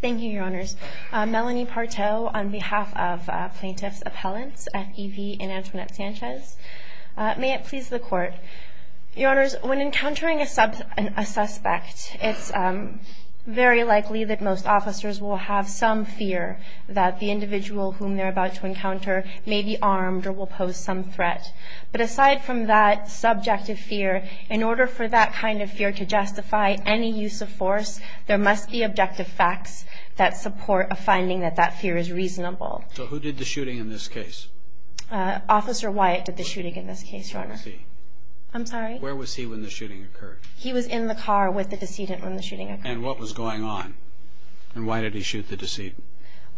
Thank you, Your Honors. Melanie Parteau on behalf of plaintiffs' appellants, F.E.V. and Antoinette Sanchez. May it please the Court. Your Honors, when encountering a suspect, it's very likely that most officers will have some fear that the individual whom they're about to encounter may be armed or will pose some threat. But aside from that subjective fear, in order for that kind of fear to justify any use of force, there must be objective facts that support a finding that that fear is reasonable. So who did the shooting in this case? Officer Wyatt did the shooting in this case, Your Honor. Where was he when the shooting occurred? He was in the car with the decedent when the shooting occurred. And what was going on? And why did he shoot the decedent?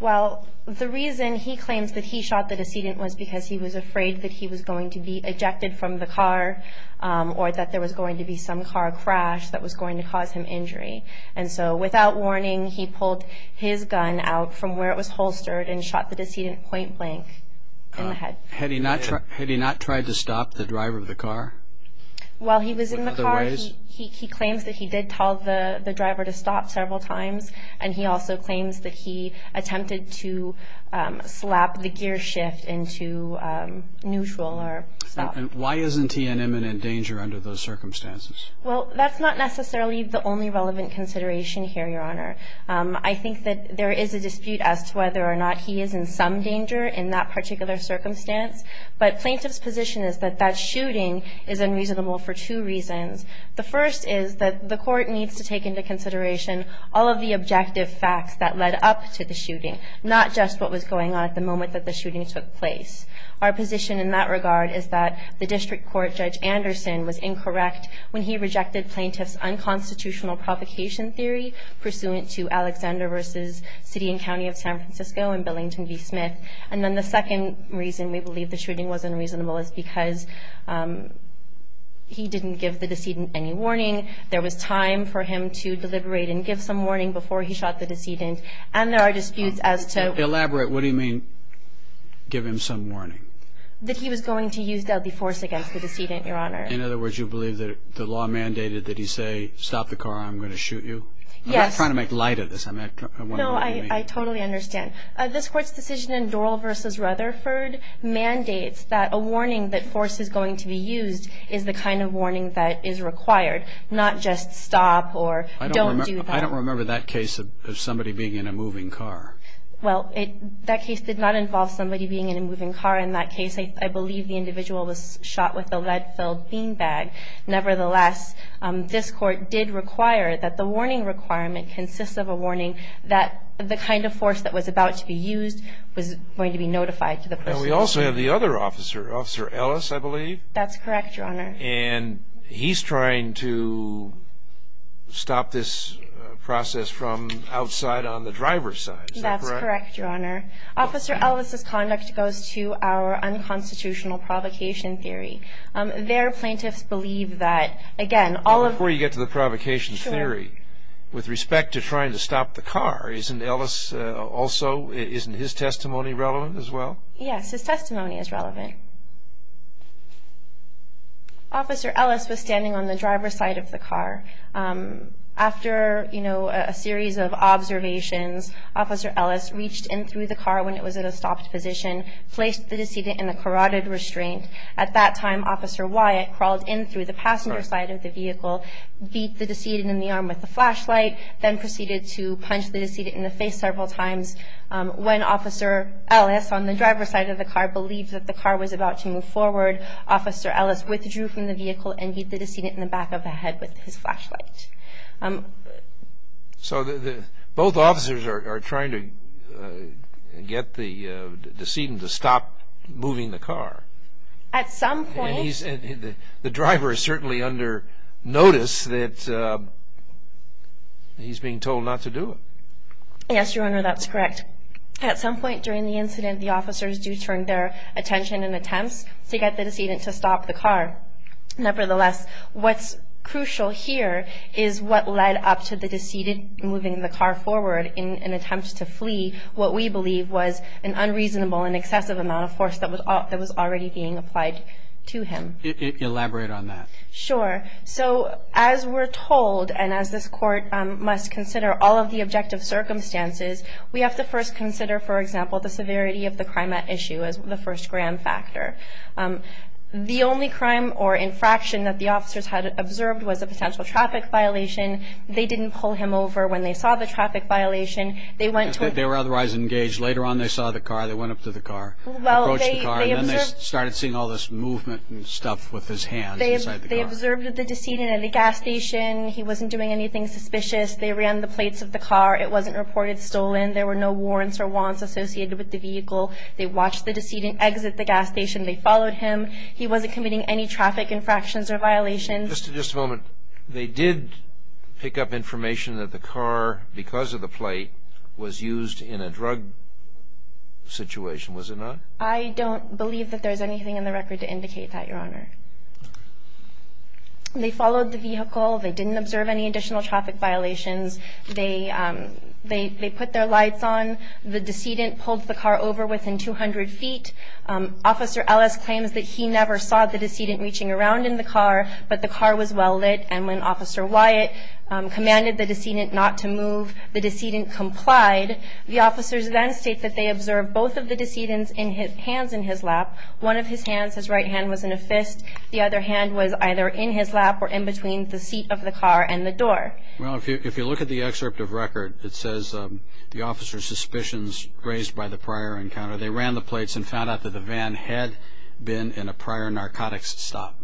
Well, the reason he claims that he shot the decedent was because he was afraid that he was going to be ejected from the car or that there was going to be some car crash that was going to cause him injury. And so without warning, he pulled his gun out from where it was holstered and shot the decedent point blank in the head. Had he not tried to stop the driver of the car? While he was in the car, he claims that he did tell the driver to stop several times. And he also claims that he attempted to slap the gear shift into neutral or stop. And why isn't he in imminent danger under those circumstances? Well, that's not necessarily the only relevant consideration here, Your Honor. I think that there is a dispute as to whether or not he is in some danger in that particular circumstance. But plaintiff's position is that that shooting is unreasonable for two reasons. The first is that the court needs to take into consideration all of the objective facts that led up to the shooting, not just what was going on at the moment that the shooting took place. Our position in that regard is that the district court, Judge Anderson, was incorrect when he rejected plaintiff's unconstitutional provocation theory pursuant to Alexander v. City and County of San Francisco and Billington v. Smith. And then the second reason we believe the shooting was unreasonable is because he didn't give the decedent any warning. There was time for him to deliberate and give some warning before he shot the decedent. And there are disputes as to- Elaborate. What do you mean, give him some warning? That he was going to use deadly force against the decedent, Your Honor. In other words, you believe that the law mandated that he say, stop the car or I'm going to shoot you? Yes. I'm not trying to make light of this. I'm wondering what you mean. No, I totally understand. This Court's decision in Doral v. Rutherford mandates that a warning that force is going to be used is the kind of warning that is required, not just stop or don't do that. I don't remember that case of somebody being in a moving car. Well, that case did not involve somebody being in a moving car in that case. I believe the individual was shot with a lead-filled bean bag. Nevertheless, this Court did require that the warning requirement consists of a warning that the kind of force that was about to be used was going to be notified to the person. And we also have the other officer, Officer Ellis, I believe? That's correct, Your Honor. And he's trying to stop this process from outside on the driver's side, is that correct? That's correct, Your Honor. Officer Ellis' conduct goes to our unconstitutional provocation theory. Their plaintiffs believe that, again, all of the- And before you get to the provocation theory, with respect to trying to stop the car, isn't Ellis also, isn't his testimony relevant as well? Yes, his testimony is relevant. Officer Ellis was standing on the driver's side of the car. After, you know, a series of observations, Officer Ellis reached in through the car when it was in a stopped position, placed the decedent in a carotid restraint. At that time, Officer Wyatt crawled in through the passenger side of the vehicle, beat the decedent in the arm with a flashlight, then proceeded to punch the decedent in the face several times. When Officer Ellis, on the driver's side of the car, believed that the car was about to move forward, Officer Ellis withdrew from the vehicle and beat the decedent in the back of the head with his flashlight. So both officers are trying to get the decedent to stop moving the car. At some point- And the driver is certainly under notice that he's being told not to do it. Yes, Your Honor, that's correct. At some point during the incident, the officers do turn their attention in attempts to get the decedent to stop the car. Nevertheless, what's crucial here is what led up to the decedent moving the car forward in an attempt to flee what we believe was an unreasonable and excessive amount of force that was already being applied to him. Elaborate on that. Sure. So as we're told, and as this Court must consider all of the objective circumstances, we have to first consider, for example, the severity of the crime at issue as the first grand factor. The only crime or infraction that the officers had observed was a potential traffic violation. They didn't pull him over when they saw the traffic violation. They were otherwise engaged. Later on, they saw the car. They went up to the car, approached the car, and then they started seeing all this movement and stuff with his hands inside the car. They observed the decedent at the gas station. He wasn't doing anything suspicious. They ran the plates of the car. It wasn't reported stolen. There were no warrants or wants associated with the vehicle. They watched the decedent exit the gas station. They followed him. He wasn't committing any traffic infractions or violations. Just a moment. They did pick up information that the car, because of the plate, was used in a drug situation, was it not? I don't believe that there's anything in the record to indicate that, Your Honor. They followed the vehicle. They didn't observe any additional traffic violations. They put their lights on. The decedent pulled the car over within 200 feet. Officer Ellis claims that he never saw the decedent reaching around in the car, but the car was well lit. And when Officer Wyatt commanded the decedent not to move, the decedent complied. The officers then state that they observed both of the decedents' hands in his lap. One of his hands, his right hand, was in a fist. The other hand was either in his lap or in between the seat of the car and the door. Well, if you look at the excerpt of record, it says the officers' suspicions raised by the prior encounter. They ran the plates and found out that the van had been in a prior narcotics stop.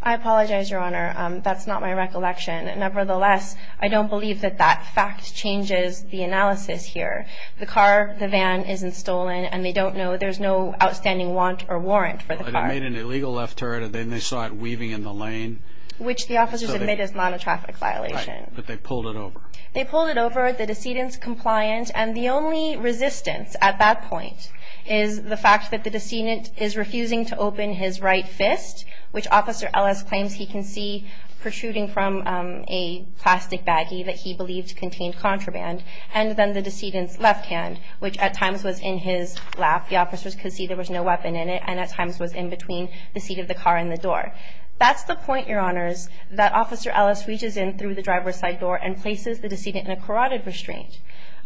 I apologize, Your Honor. That's not my recollection. Nevertheless, I don't believe that that fact changes the analysis here. The car, the van isn't stolen, and they don't know there's no outstanding want or warrant for the car. They made an illegal left turn, and then they saw it weaving in the lane. Which the officers admit is not a traffic violation. Right. But they pulled it over. They pulled it over. The decedent's compliant. And the only resistance at that point is the fact that the decedent is refusing to open his right fist, which Officer Ellis claims he can see protruding from a plastic baggie that he believed contained contraband, and then the decedent's left hand, which at times was in his lap. The officers could see there was no weapon in it and at times was in between the seat of the car and the door. That's the point, Your Honors, that Officer Ellis reaches in through the driver's side door and places the decedent in a carotid restraint.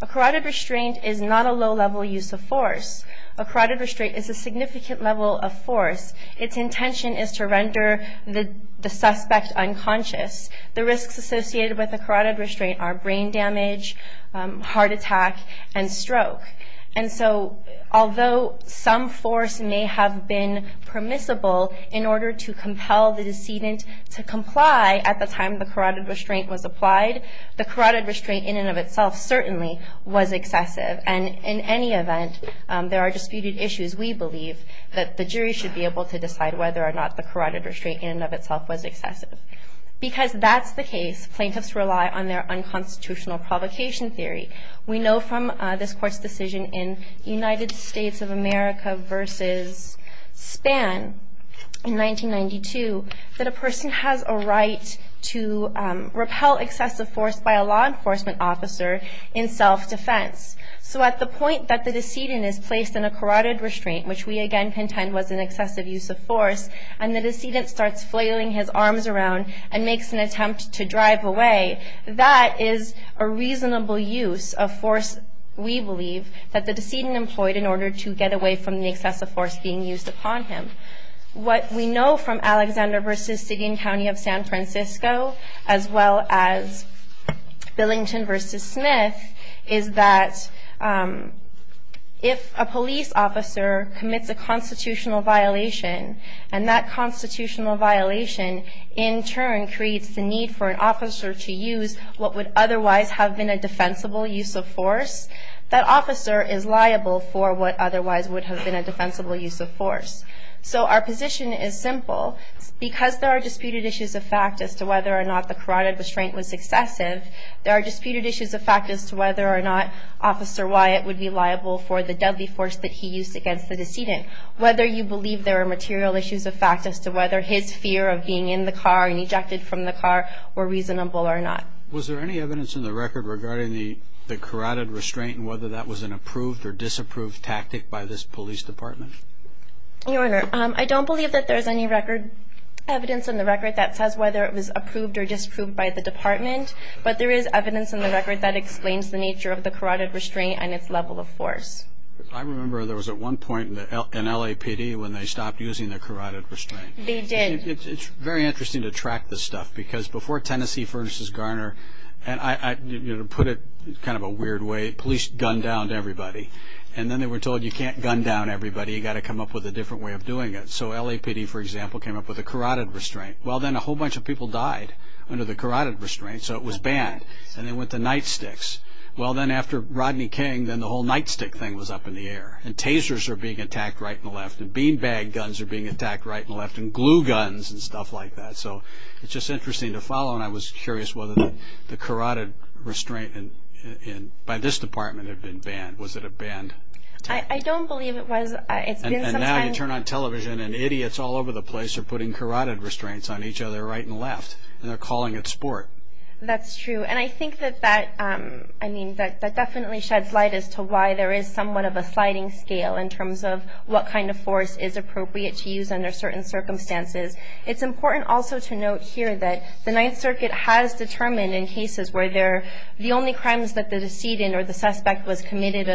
A carotid restraint is not a low-level use of force. A carotid restraint is a significant level of force. Its intention is to render the suspect unconscious. The risks associated with a carotid restraint are brain damage, heart attack, and stroke. And so although some force may have been permissible in order to compel the decedent to comply at the time the carotid restraint was applied, the carotid restraint in and of itself certainly was excessive. And in any event, there are disputed issues. We believe that the jury should be able to decide whether or not the carotid restraint in and of itself was excessive. Because that's the case, plaintiffs rely on their unconstitutional provocation theory. We know from this Court's decision in United States of America v. Spann in 1992 that a person has a right to repel excessive force by a law enforcement officer in self-defense. So at the point that the decedent is placed in a carotid restraint, which we again contend was an excessive use of force, and the decedent starts flailing his arms around and makes an attempt to drive away, that is a reasonable use of force, we believe, that the decedent employed in order to get away from the excessive force being used upon him. What we know from Alexander v. City and County of San Francisco, as well as Billington v. Smith, is that if a police officer commits a constitutional violation, and that constitutional violation in turn creates the need for an officer to use what would otherwise have been a defensible use of force, that officer is liable for what otherwise would have been a defensible use of force. So our position is simple. Because there are disputed issues of fact as to whether or not the carotid restraint was excessive, there are disputed issues of fact as to whether or not Officer Wyatt would be liable for the deadly force that he used against the decedent. Whether you believe there are material issues of fact as to whether his fear of being in the car and ejected from the car were reasonable or not. Was there any evidence in the record regarding the carotid restraint and whether that was an approved or disapproved tactic by this police department? Your Honor, I don't believe that there is any record evidence in the record that says whether it was approved or disapproved by the department, but there is evidence in the record that explains the nature of the carotid restraint and its level of force. I remember there was at one point in LAPD when they stopped using the carotid restraint. They did. It's very interesting to track this stuff, because before Tennessee vs. Garner, to put it in kind of a weird way, police gunned down everybody. And then they were told you can't gun down everybody, you've got to come up with a different way of doing it. So LAPD, for example, came up with a carotid restraint. Well, then a whole bunch of people died under the carotid restraint, so it was banned. And they went to nightsticks. Well, then after Rodney King, then the whole nightstick thing was up in the air, and tasers are being attacked right and left, and beanbag guns are being attacked right and left, and glue guns and stuff like that. So it's just interesting to follow, and I was curious whether the carotid restraint by this department had been banned. Was it a banned tactic? I don't believe it was. And now you turn on television, and idiots all over the place are putting carotid restraints on each other right and left, and they're calling it sport. That's true. And I think that that definitely sheds light as to why there is somewhat of a sliding scale in terms of what kind of force is appropriate to use under certain circumstances. It's important also to note here that the Ninth Circuit has determined in cases where the only crimes that the decedent or the suspect was committed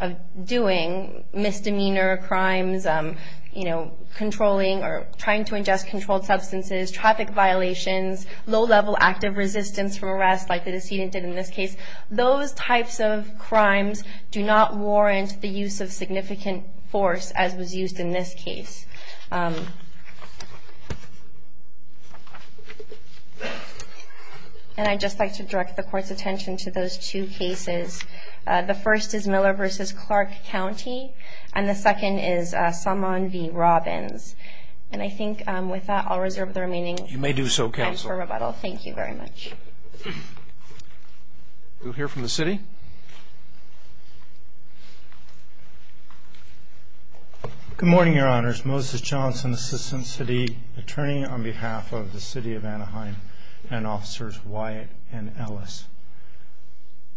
of doing, misdemeanor crimes, controlling or trying to ingest controlled substances, traffic violations, low-level active resistance from arrest like the decedent did in this case, those types of crimes do not warrant the use of significant force as was used in this case. And I'd just like to direct the Court's attention to those two cases. The first is Miller v. Clark County, and the second is Salmon v. Robbins. And I think with that I'll reserve the remaining time for rebuttal. You may do so, Counsel. Thank you very much. We'll hear from the city. Good morning, Your Honors. Moses Johnson, Assistant City Attorney on behalf of the City of Anaheim and Officers Wyatt and Ellis.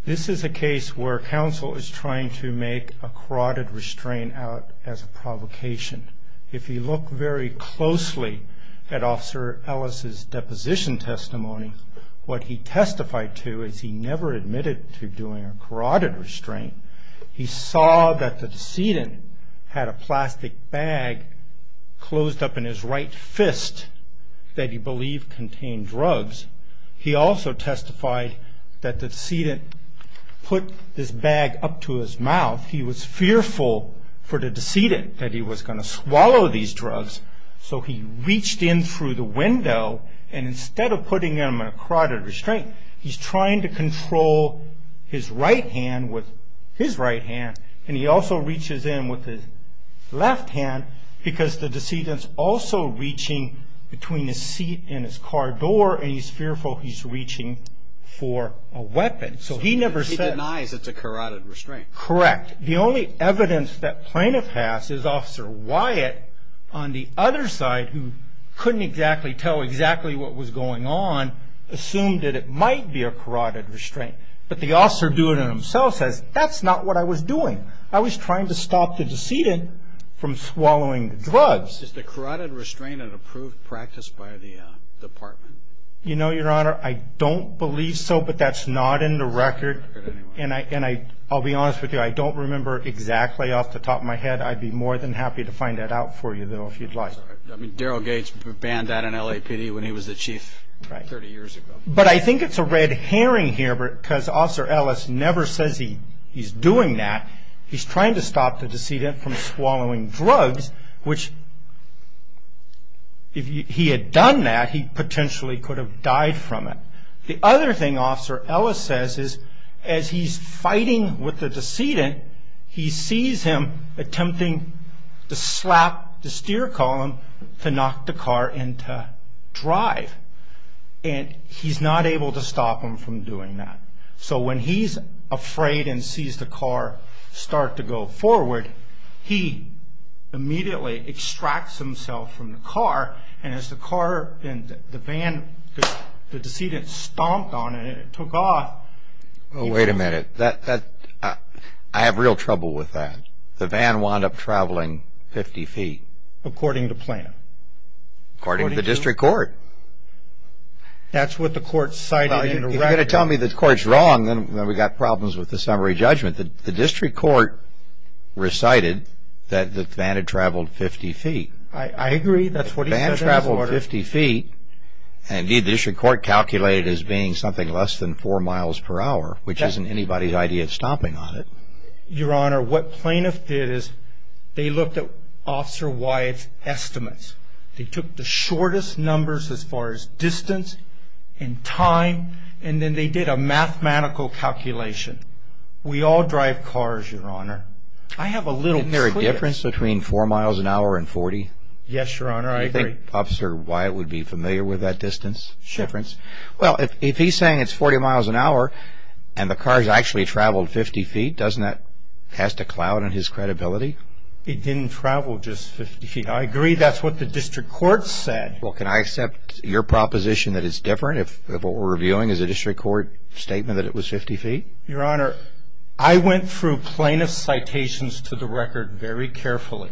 This is a case where counsel is trying to make a carotid restraint out as a provocation. If you look very closely at Officer Ellis' deposition testimony, what he testified to is he never admitted to doing a carotid restraint. He saw that the decedent had a plastic bag closed up in his right fist that he believed contained drugs. He also testified that the decedent put this bag up to his mouth. He was fearful for the decedent that he was going to swallow these drugs, so he reached in through the window, and instead of putting him in a carotid restraint, he's trying to control his right hand with his right hand, and he also reaches in with his left hand because the decedent's also reaching between his seat and his car door, and he's fearful he's reaching for a weapon. He denies it's a carotid restraint. Correct. The only evidence that plaintiff has is Officer Wyatt on the other side who couldn't tell exactly what was going on, assumed that it might be a carotid restraint, but the officer doing it himself says, that's not what I was doing. I was trying to stop the decedent from swallowing the drugs. Is the carotid restraint an approved practice by the department? You know, Your Honor, I don't believe so, but that's not in the record, and I'll be honest with you, I don't remember exactly off the top of my head. I'd be more than happy to find that out for you, though, if you'd like. Darryl Gates banned that in LAPD when he was the chief 30 years ago. But I think it's a red herring here because Officer Ellis never says he's doing that. He's trying to stop the decedent from swallowing drugs, which if he had done that, he potentially could have died from it. The other thing Officer Ellis says is, as he's fighting with the decedent, he sees him attempting to slap the steer column to knock the car into drive, and he's not able to stop him from doing that. So when he's afraid and sees the car start to go forward, he immediately extracts himself from the car, and as the car and the van, the decedent stomped on it and it took off. Wait a minute. I have real trouble with that. The van wound up traveling 50 feet. According to Plano. According to the district court. That's what the court cited in the record. If you're going to tell me the court's wrong, then we've got problems with the summary judgment. The district court recited that the van had traveled 50 feet. I agree. That's what he said in his order. The van traveled 50 feet. Indeed, the district court calculated it as being something less than 4 miles per hour, which isn't anybody's idea of stomping on it. Your Honor, what Plano did is they looked at Officer Wyatt's estimates. They took the shortest numbers as far as distance and time, and then they did a mathematical calculation. We all drive cars, Your Honor. Isn't there a difference between 4 miles per hour and 40? Yes, Your Honor. I agree. Do you think Officer Wyatt would be familiar with that distance difference? Sure. Well, if he's saying it's 40 miles per hour and the car's actually traveled 50 feet, doesn't that cast a cloud on his credibility? It didn't travel just 50 feet. I agree. That's what the district court said. Well, can I accept your proposition that it's different, if what we're reviewing is a district court statement that it was 50 feet? Your Honor, I went through Plano's citations to the record very carefully,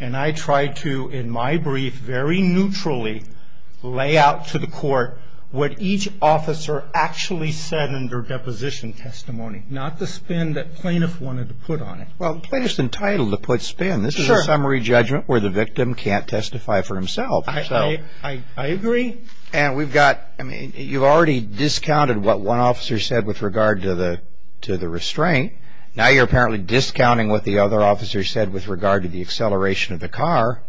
and I tried to, in my brief, very neutrally lay out to the court what each officer actually said in their deposition testimony, not the spin that Plano wanted to put on it. Well, Plano's entitled to put spin. This is a summary judgment where the victim can't testify for himself. I agree. And we've got, I mean, you've already discounted what one officer said with regard to the restraint. Now you're apparently discounting what the other officer said with regard to the acceleration of the car,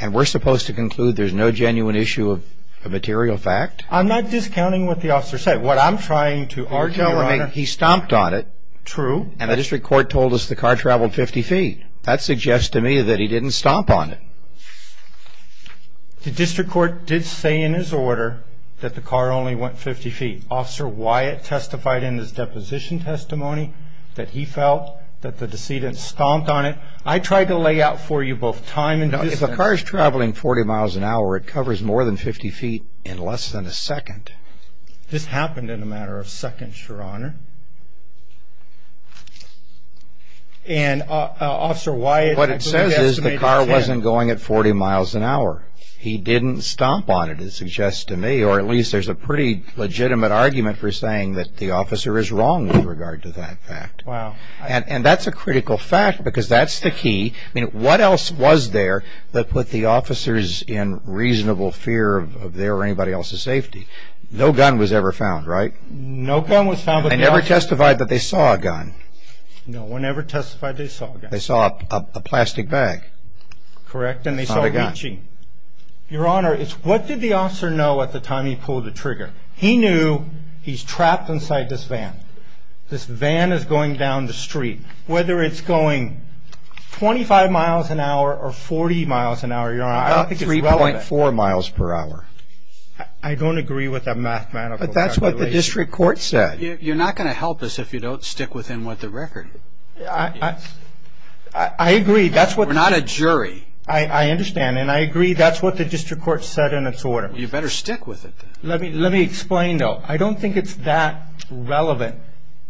and we're supposed to conclude there's no genuine issue of a material fact? I'm not discounting what the officer said. What I'm trying to argue, Your Honor, He stomped on it. True. And the district court told us the car traveled 50 feet. That suggests to me that he didn't stomp on it. The district court did say in his order that the car only went 50 feet. Officer Wyatt testified in his deposition testimony that he felt that the decedent stomped on it. I tried to lay out for you both time and distance. If a car is traveling 40 miles an hour, it covers more than 50 feet in less than a second. This happened in a matter of seconds, Your Honor. And, Officer Wyatt, What it says is the car wasn't going at 40 miles an hour. He didn't stomp on it, it suggests to me, or at least there's a pretty legitimate argument for saying that the officer is wrong with regard to that fact. Wow. And that's a critical fact because that's the key. I mean, what else was there that put the officers in reasonable fear of their or anybody else's safety? No gun was ever found, right? No gun was found. I never testified that they saw a gun. No one ever testified that they saw a gun. They saw a plastic bag. Correct. Not a gun. And they saw it reaching. Your Honor, what did the officer know at the time he pulled the trigger? He knew he's trapped inside this van. This van is going down the street. Whether it's going 25 miles an hour or 40 miles an hour, Your Honor, I don't think it's relevant. About 3.4 miles per hour. I don't agree with that mathematical calculation. But that's what the district court said. You're not going to help us if you don't stick with him with the record. I agree. We're not a jury. I understand. And I agree that's what the district court said in its order. You better stick with it, then. Let me explain, though. I don't think it's that relevant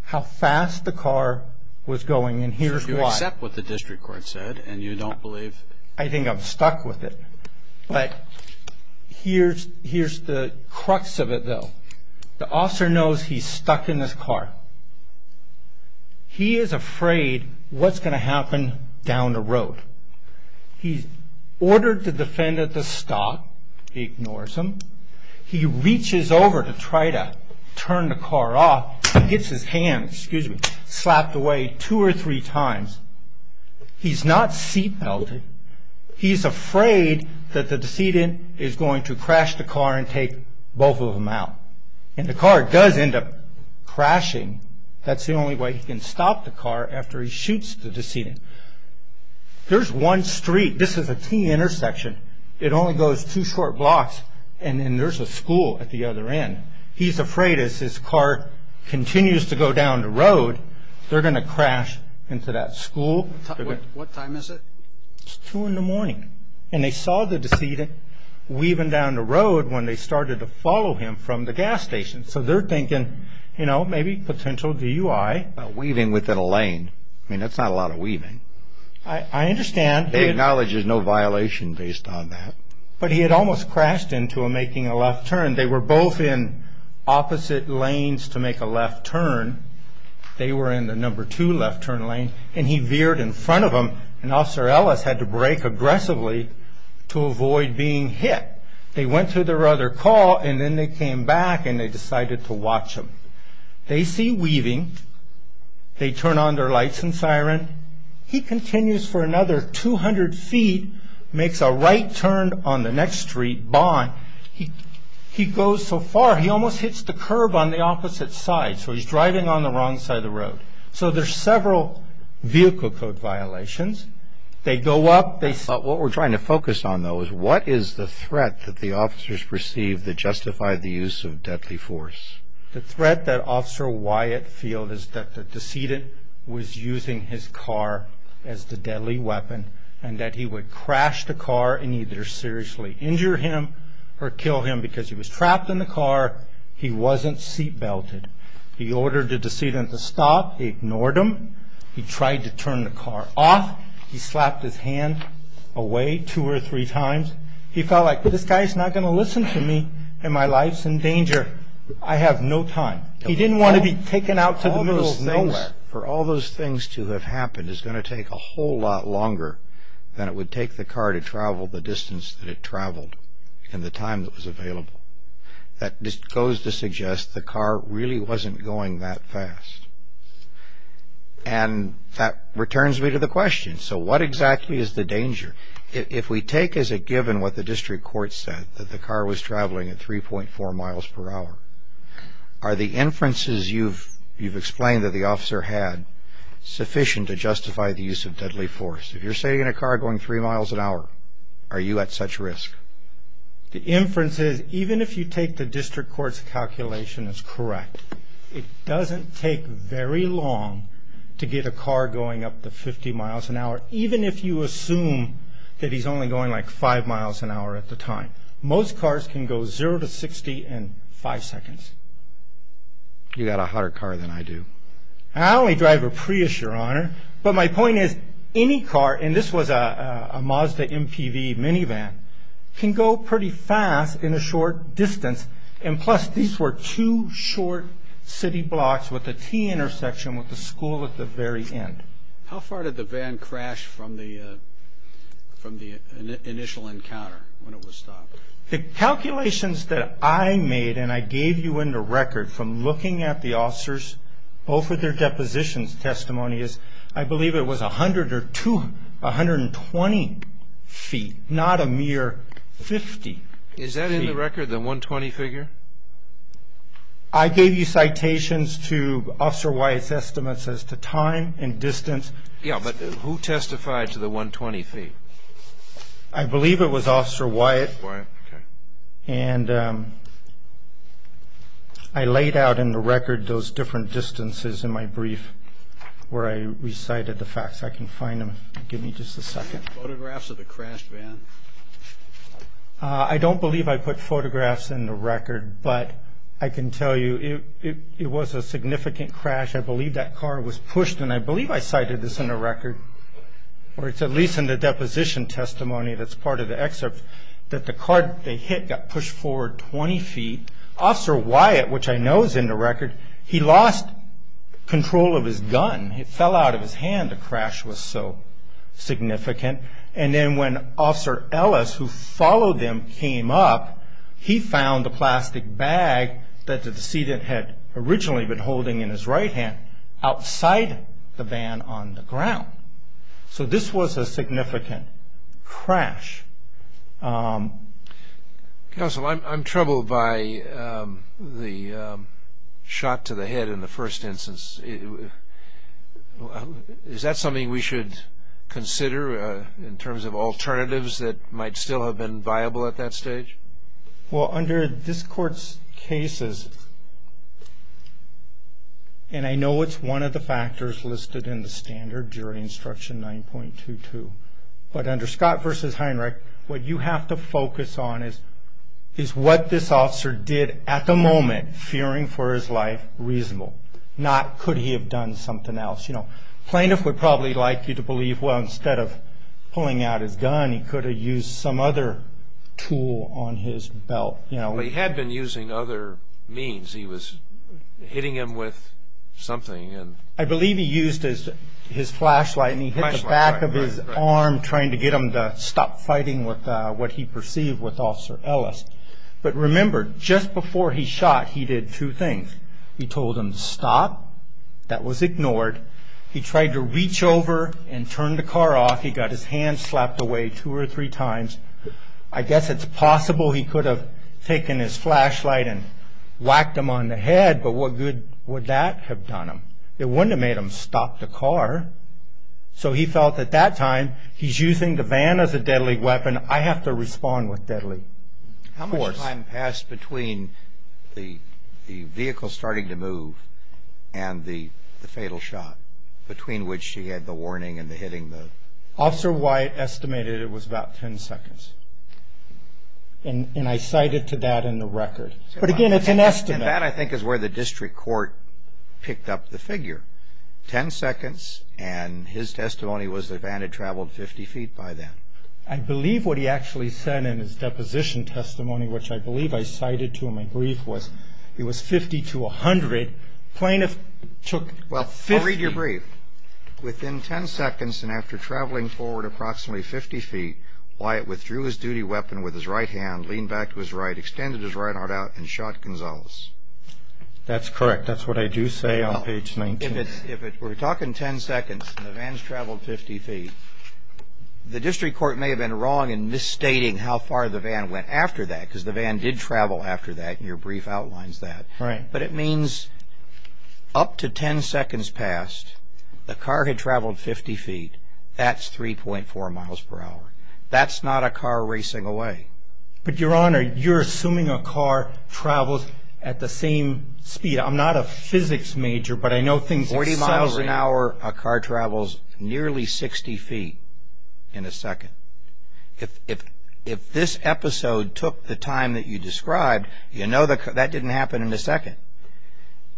how fast the car was going, and here's why. You accept what the district court said, and you don't believe. I think I'm stuck with it. But here's the crux of it, though. The officer knows he's stuck in this car. He is afraid what's going to happen down the road. He's ordered to defend at the stop. He ignores him. He reaches over to try to turn the car off. He hits his hand, excuse me, slapped away two or three times. He's not seat-belting. He's afraid that the decedent is going to crash the car and take both of them out. And the car does end up crashing. That's the only way he can stop the car after he shoots the decedent. There's one street. This is a key intersection. It only goes two short blocks, and then there's a school at the other end. He's afraid as his car continues to go down the road, they're going to crash into that school. What time is it? It's 2 in the morning. And they saw the decedent weaving down the road when they started to follow him from the gas station. So they're thinking, you know, maybe potential DUI. Weaving within a lane. I mean, that's not a lot of weaving. I understand. They acknowledge there's no violation based on that. But he had almost crashed into them making a left turn. They were both in opposite lanes to make a left turn. They were in the number two left turn lane. And he veered in front of them, and Officer Ellis had to brake aggressively to avoid being hit. They went through their other call, and then they came back and they decided to watch him. They see Weaving. They turn on their lights and siren. He continues for another 200 feet, makes a right turn on the next street, Bond. He goes so far, he almost hits the curb on the opposite side. So he's driving on the wrong side of the road. So there's several vehicle code violations. They go up. What we're trying to focus on, though, is what is the threat that the officers perceived that justified the use of deadly force? The threat that Officer Wyatt feel is that the decedent was using his car as the deadly weapon and that he would crash the car and either seriously injure him or kill him because he was trapped in the car. He wasn't seat belted. He ordered the decedent to stop. He ignored him. He tried to turn the car off. He slapped his hand away two or three times. He felt like, this guy's not going to listen to me, and my life's in danger. I have no time. He didn't want to be taken out to the middle of nowhere. For all those things to have happened is going to take a whole lot longer than it would take the car to travel the distance that it traveled and the time that was available. That just goes to suggest the car really wasn't going that fast. And that returns me to the question. So what exactly is the danger? If we take as a given what the district court said, that the car was traveling at 3.4 miles per hour, are the inferences you've explained that the officer had sufficient to justify the use of deadly force? If you're sitting in a car going three miles an hour, are you at such risk? The inference is, even if you take the district court's calculation as correct, it doesn't take very long to get a car going up to 50 miles an hour, even if you assume that he's only going like five miles an hour at the time. Most cars can go zero to 60 in five seconds. You've got a hotter car than I do. I only drive a Prius, Your Honor. But my point is, any car, and this was a Mazda MPV minivan, can go pretty fast in a short distance, and plus these were two short city blocks with a T intersection with a school at the very end. How far did the van crash from the initial encounter when it was stopped? The calculations that I made, and I gave you in the record from looking at the officers, both with their depositions testimony, is I believe it was 100 or 220 feet, not a mere 50 feet. Is that in the record, the 120 figure? I gave you citations to Officer Wyatt's estimates as to time and distance. Yeah, but who testified to the 120 feet? I believe it was Officer Wyatt. Okay. And I laid out in the record those different distances in my brief where I recited the facts. I can find them. Give me just a second. Photographs of the crashed van? I don't believe I put photographs in the record, but I can tell you it was a significant crash. I believe that car was pushed, and I believe I cited this in the record, or it's at least in the deposition testimony that's part of the excerpt, that the car they hit got pushed forward 20 feet. Officer Wyatt, which I know is in the record, he lost control of his gun. It fell out of his hand, the crash was so significant. And then when Officer Ellis, who followed them, came up, he found the plastic bag that the decedent had originally been holding in his right hand outside the van on the ground. So this was a significant crash. Counsel, I'm troubled by the shot to the head in the first instance. Is that something we should consider in terms of alternatives that might still have been viable at that stage? Well, under this Court's cases, and I know it's one of the factors listed in the standard during Instruction 9.22, but under Scott v. Heinrich, what you have to focus on is what this officer did at the moment, and fearing for his life, reasonable. Not could he have done something else. Plaintiff would probably like you to believe, well, instead of pulling out his gun, he could have used some other tool on his belt. Well, he had been using other means. He was hitting him with something. I believe he used his flashlight, and he hit the back of his arm, trying to get him to stop fighting with what he perceived with Officer Ellis. But remember, just before he shot, he did two things. He told him to stop. That was ignored. He tried to reach over and turn the car off. He got his hand slapped away two or three times. I guess it's possible he could have taken his flashlight and whacked him on the head, but what good would that have done him? It wouldn't have made him stop the car. So he felt at that time, he's using the van as a deadly weapon. I have to respond with deadly force. How much time passed between the vehicle starting to move and the fatal shot, between which he had the warning and the hitting? Officer White estimated it was about ten seconds. And I cited to that in the record. But, again, it's an estimate. And that, I think, is where the district court picked up the figure. Ten seconds, and his testimony was the van had traveled 50 feet by then. I believe what he actually said in his deposition testimony, which I believe I cited to in my brief, was it was 50 to 100. Plaintiff took 50. Well, I'll read your brief. Within ten seconds and after traveling forward approximately 50 feet, Wyatt withdrew his duty weapon with his right hand, leaned back to his right, extended his right arm out, and shot Gonzalez. That's correct. That's what I do say on page 19. If we're talking ten seconds and the van's traveled 50 feet, the district court may have been wrong in misstating how far the van went after that because the van did travel after that, and your brief outlines that. Right. But it means up to ten seconds past, the car had traveled 50 feet. That's 3.4 miles per hour. That's not a car racing away. But, Your Honor, you're assuming a car travels at the same speed. I'm not a physics major, but I know things accelerate. Forty miles an hour, a car travels nearly 60 feet in a second. If this episode took the time that you described, you know that didn't happen in a second.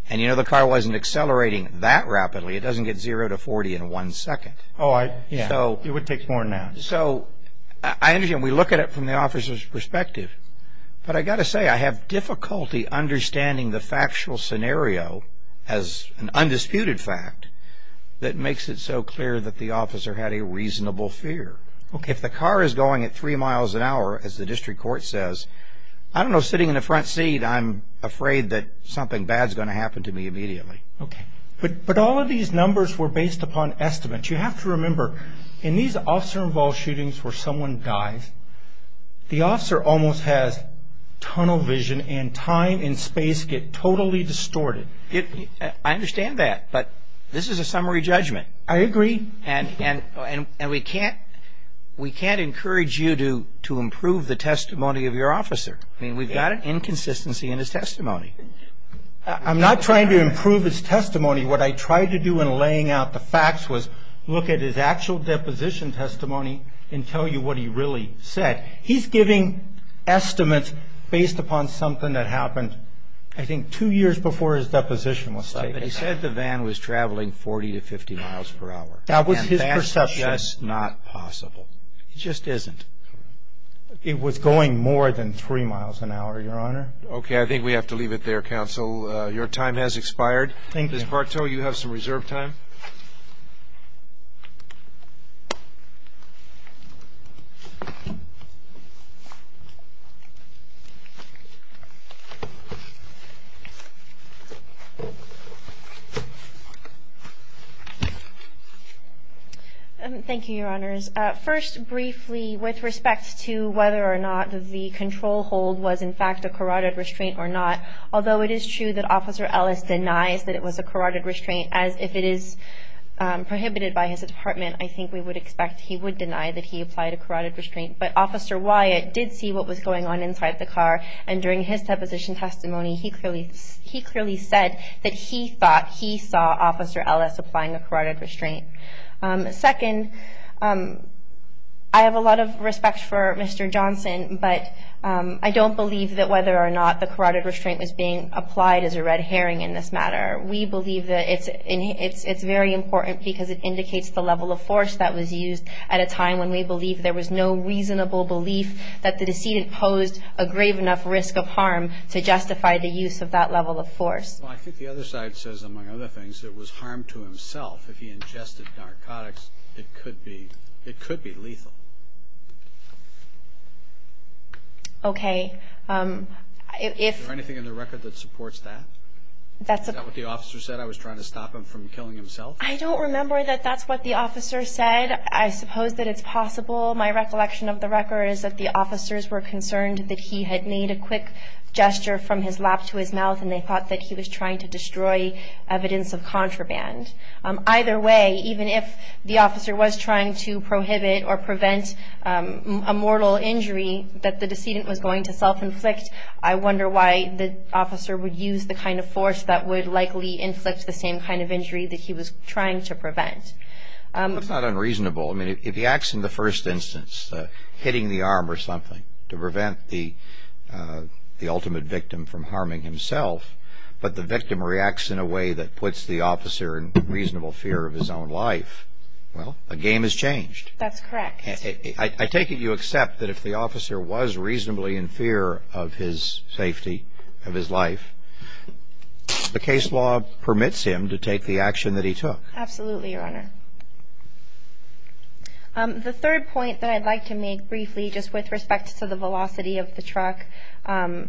And you know the car wasn't accelerating that rapidly. It doesn't get zero to 40 in one second. Oh, yeah. It would take more now. So I understand. We look at it from the officer's perspective. But I've got to say, I have difficulty understanding the factual scenario as an undisputed fact that makes it so clear that the officer had a reasonable fear. If the car is going at three miles an hour, as the district court says, I don't know, sitting in the front seat, I'm afraid that something bad's going to happen to me immediately. Okay. But all of these numbers were based upon estimates. You have to remember, in these officer-involved shootings where someone dies, the officer almost has tunnel vision and time and space get totally distorted. I understand that. But this is a summary judgment. I agree. And we can't encourage you to improve the testimony of your officer. I mean, we've got an inconsistency in his testimony. I'm not trying to improve his testimony. What I tried to do in laying out the facts was look at his actual deposition testimony and tell you what he really said. He's giving estimates based upon something that happened, I think, two years before his deposition was taken. But he said the van was traveling 40 to 50 miles per hour. That was his perception. And that's just not possible. It just isn't. It was going more than three miles an hour, Your Honor. Okay. I think we have to leave it there, counsel. Your time has expired. Thank you. Ms. Bartow, you have some reserve time. Thank you, Your Honors. First, briefly, with respect to whether or not the control hold was, in fact, a carotid restraint or not, although it is true that Officer Ellis denies that it was a carotid restraint, as if it is prohibited by his department, I think we would expect he would deny that he applied a carotid restraint. But Officer Wyatt did see what was going on inside the car, and during his deposition testimony he clearly said that he thought he saw Officer Ellis applying a carotid restraint. Second, I have a lot of respect for Mr. Johnson, but I don't believe that whether or not the carotid restraint was being applied as a red herring in this matter. We believe that it's very important because it indicates the level of force that was used at a time when we believe there was no reasonable belief that the decedent posed a grave enough risk of harm to justify the use of that level of force. Well, I think the other side says, among other things, it was harm to himself. If he ingested narcotics, it could be lethal. Okay. Is there anything in the record that supports that? Is that what the officer said, I was trying to stop him from killing himself? I don't remember that that's what the officer said. I suppose that it's possible. My recollection of the record is that the officers were concerned that he had made a quick gesture from his lap to his mouth, and they thought that he was trying to destroy evidence of contraband. Either way, even if the officer was trying to prohibit or prevent a mortal injury that the decedent was going to self-inflict, I wonder why the officer would use the kind of force that would likely inflict the same kind of injury that he was trying to prevent. That's not unreasonable. I mean, if he acts in the first instance, hitting the arm or something, to prevent the ultimate victim from harming himself, but the victim reacts in a way that puts the officer in reasonable fear of his own life, well, a game has changed. That's correct. I take it you accept that if the officer was reasonably in fear of his safety, of his life, the case law permits him to take the action that he took. Absolutely, Your Honor. The third point that I'd like to make briefly, just with respect to the velocity of the truck, the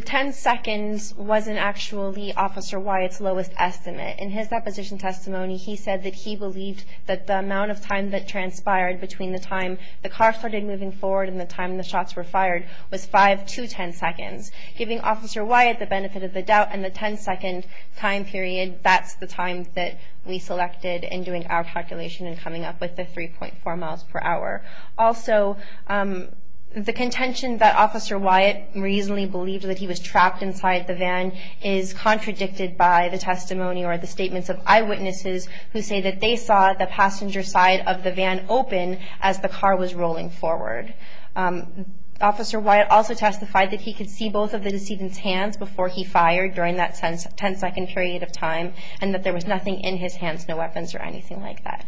10 seconds wasn't actually Officer Wyatt's lowest estimate. In his deposition testimony, he said that he believed that the amount of time that transpired between the time the car started moving forward and the time the shots were fired was 5 to 10 seconds. Giving Officer Wyatt the benefit of the doubt and the 10-second time period, that's the time that we selected in doing our calculation and coming up with the 3.4 miles per hour. Also, the contention that Officer Wyatt reasonably believed that he was trapped inside the van is contradicted by the testimony or the statements of eyewitnesses who say that they saw the passenger side of the van open as the car was rolling forward. Officer Wyatt also testified that he could see both of the decedent's hands before he fired during that 10-second period of time, and that there was nothing in his hands, no weapons or anything like that.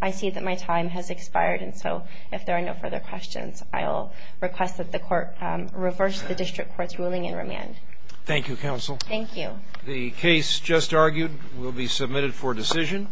I see that my time has expired, and so if there are no further questions, I'll request that the Court reverse the District Court's ruling in remand. Thank you, Counsel. Thank you. The case just argued will be submitted for decision.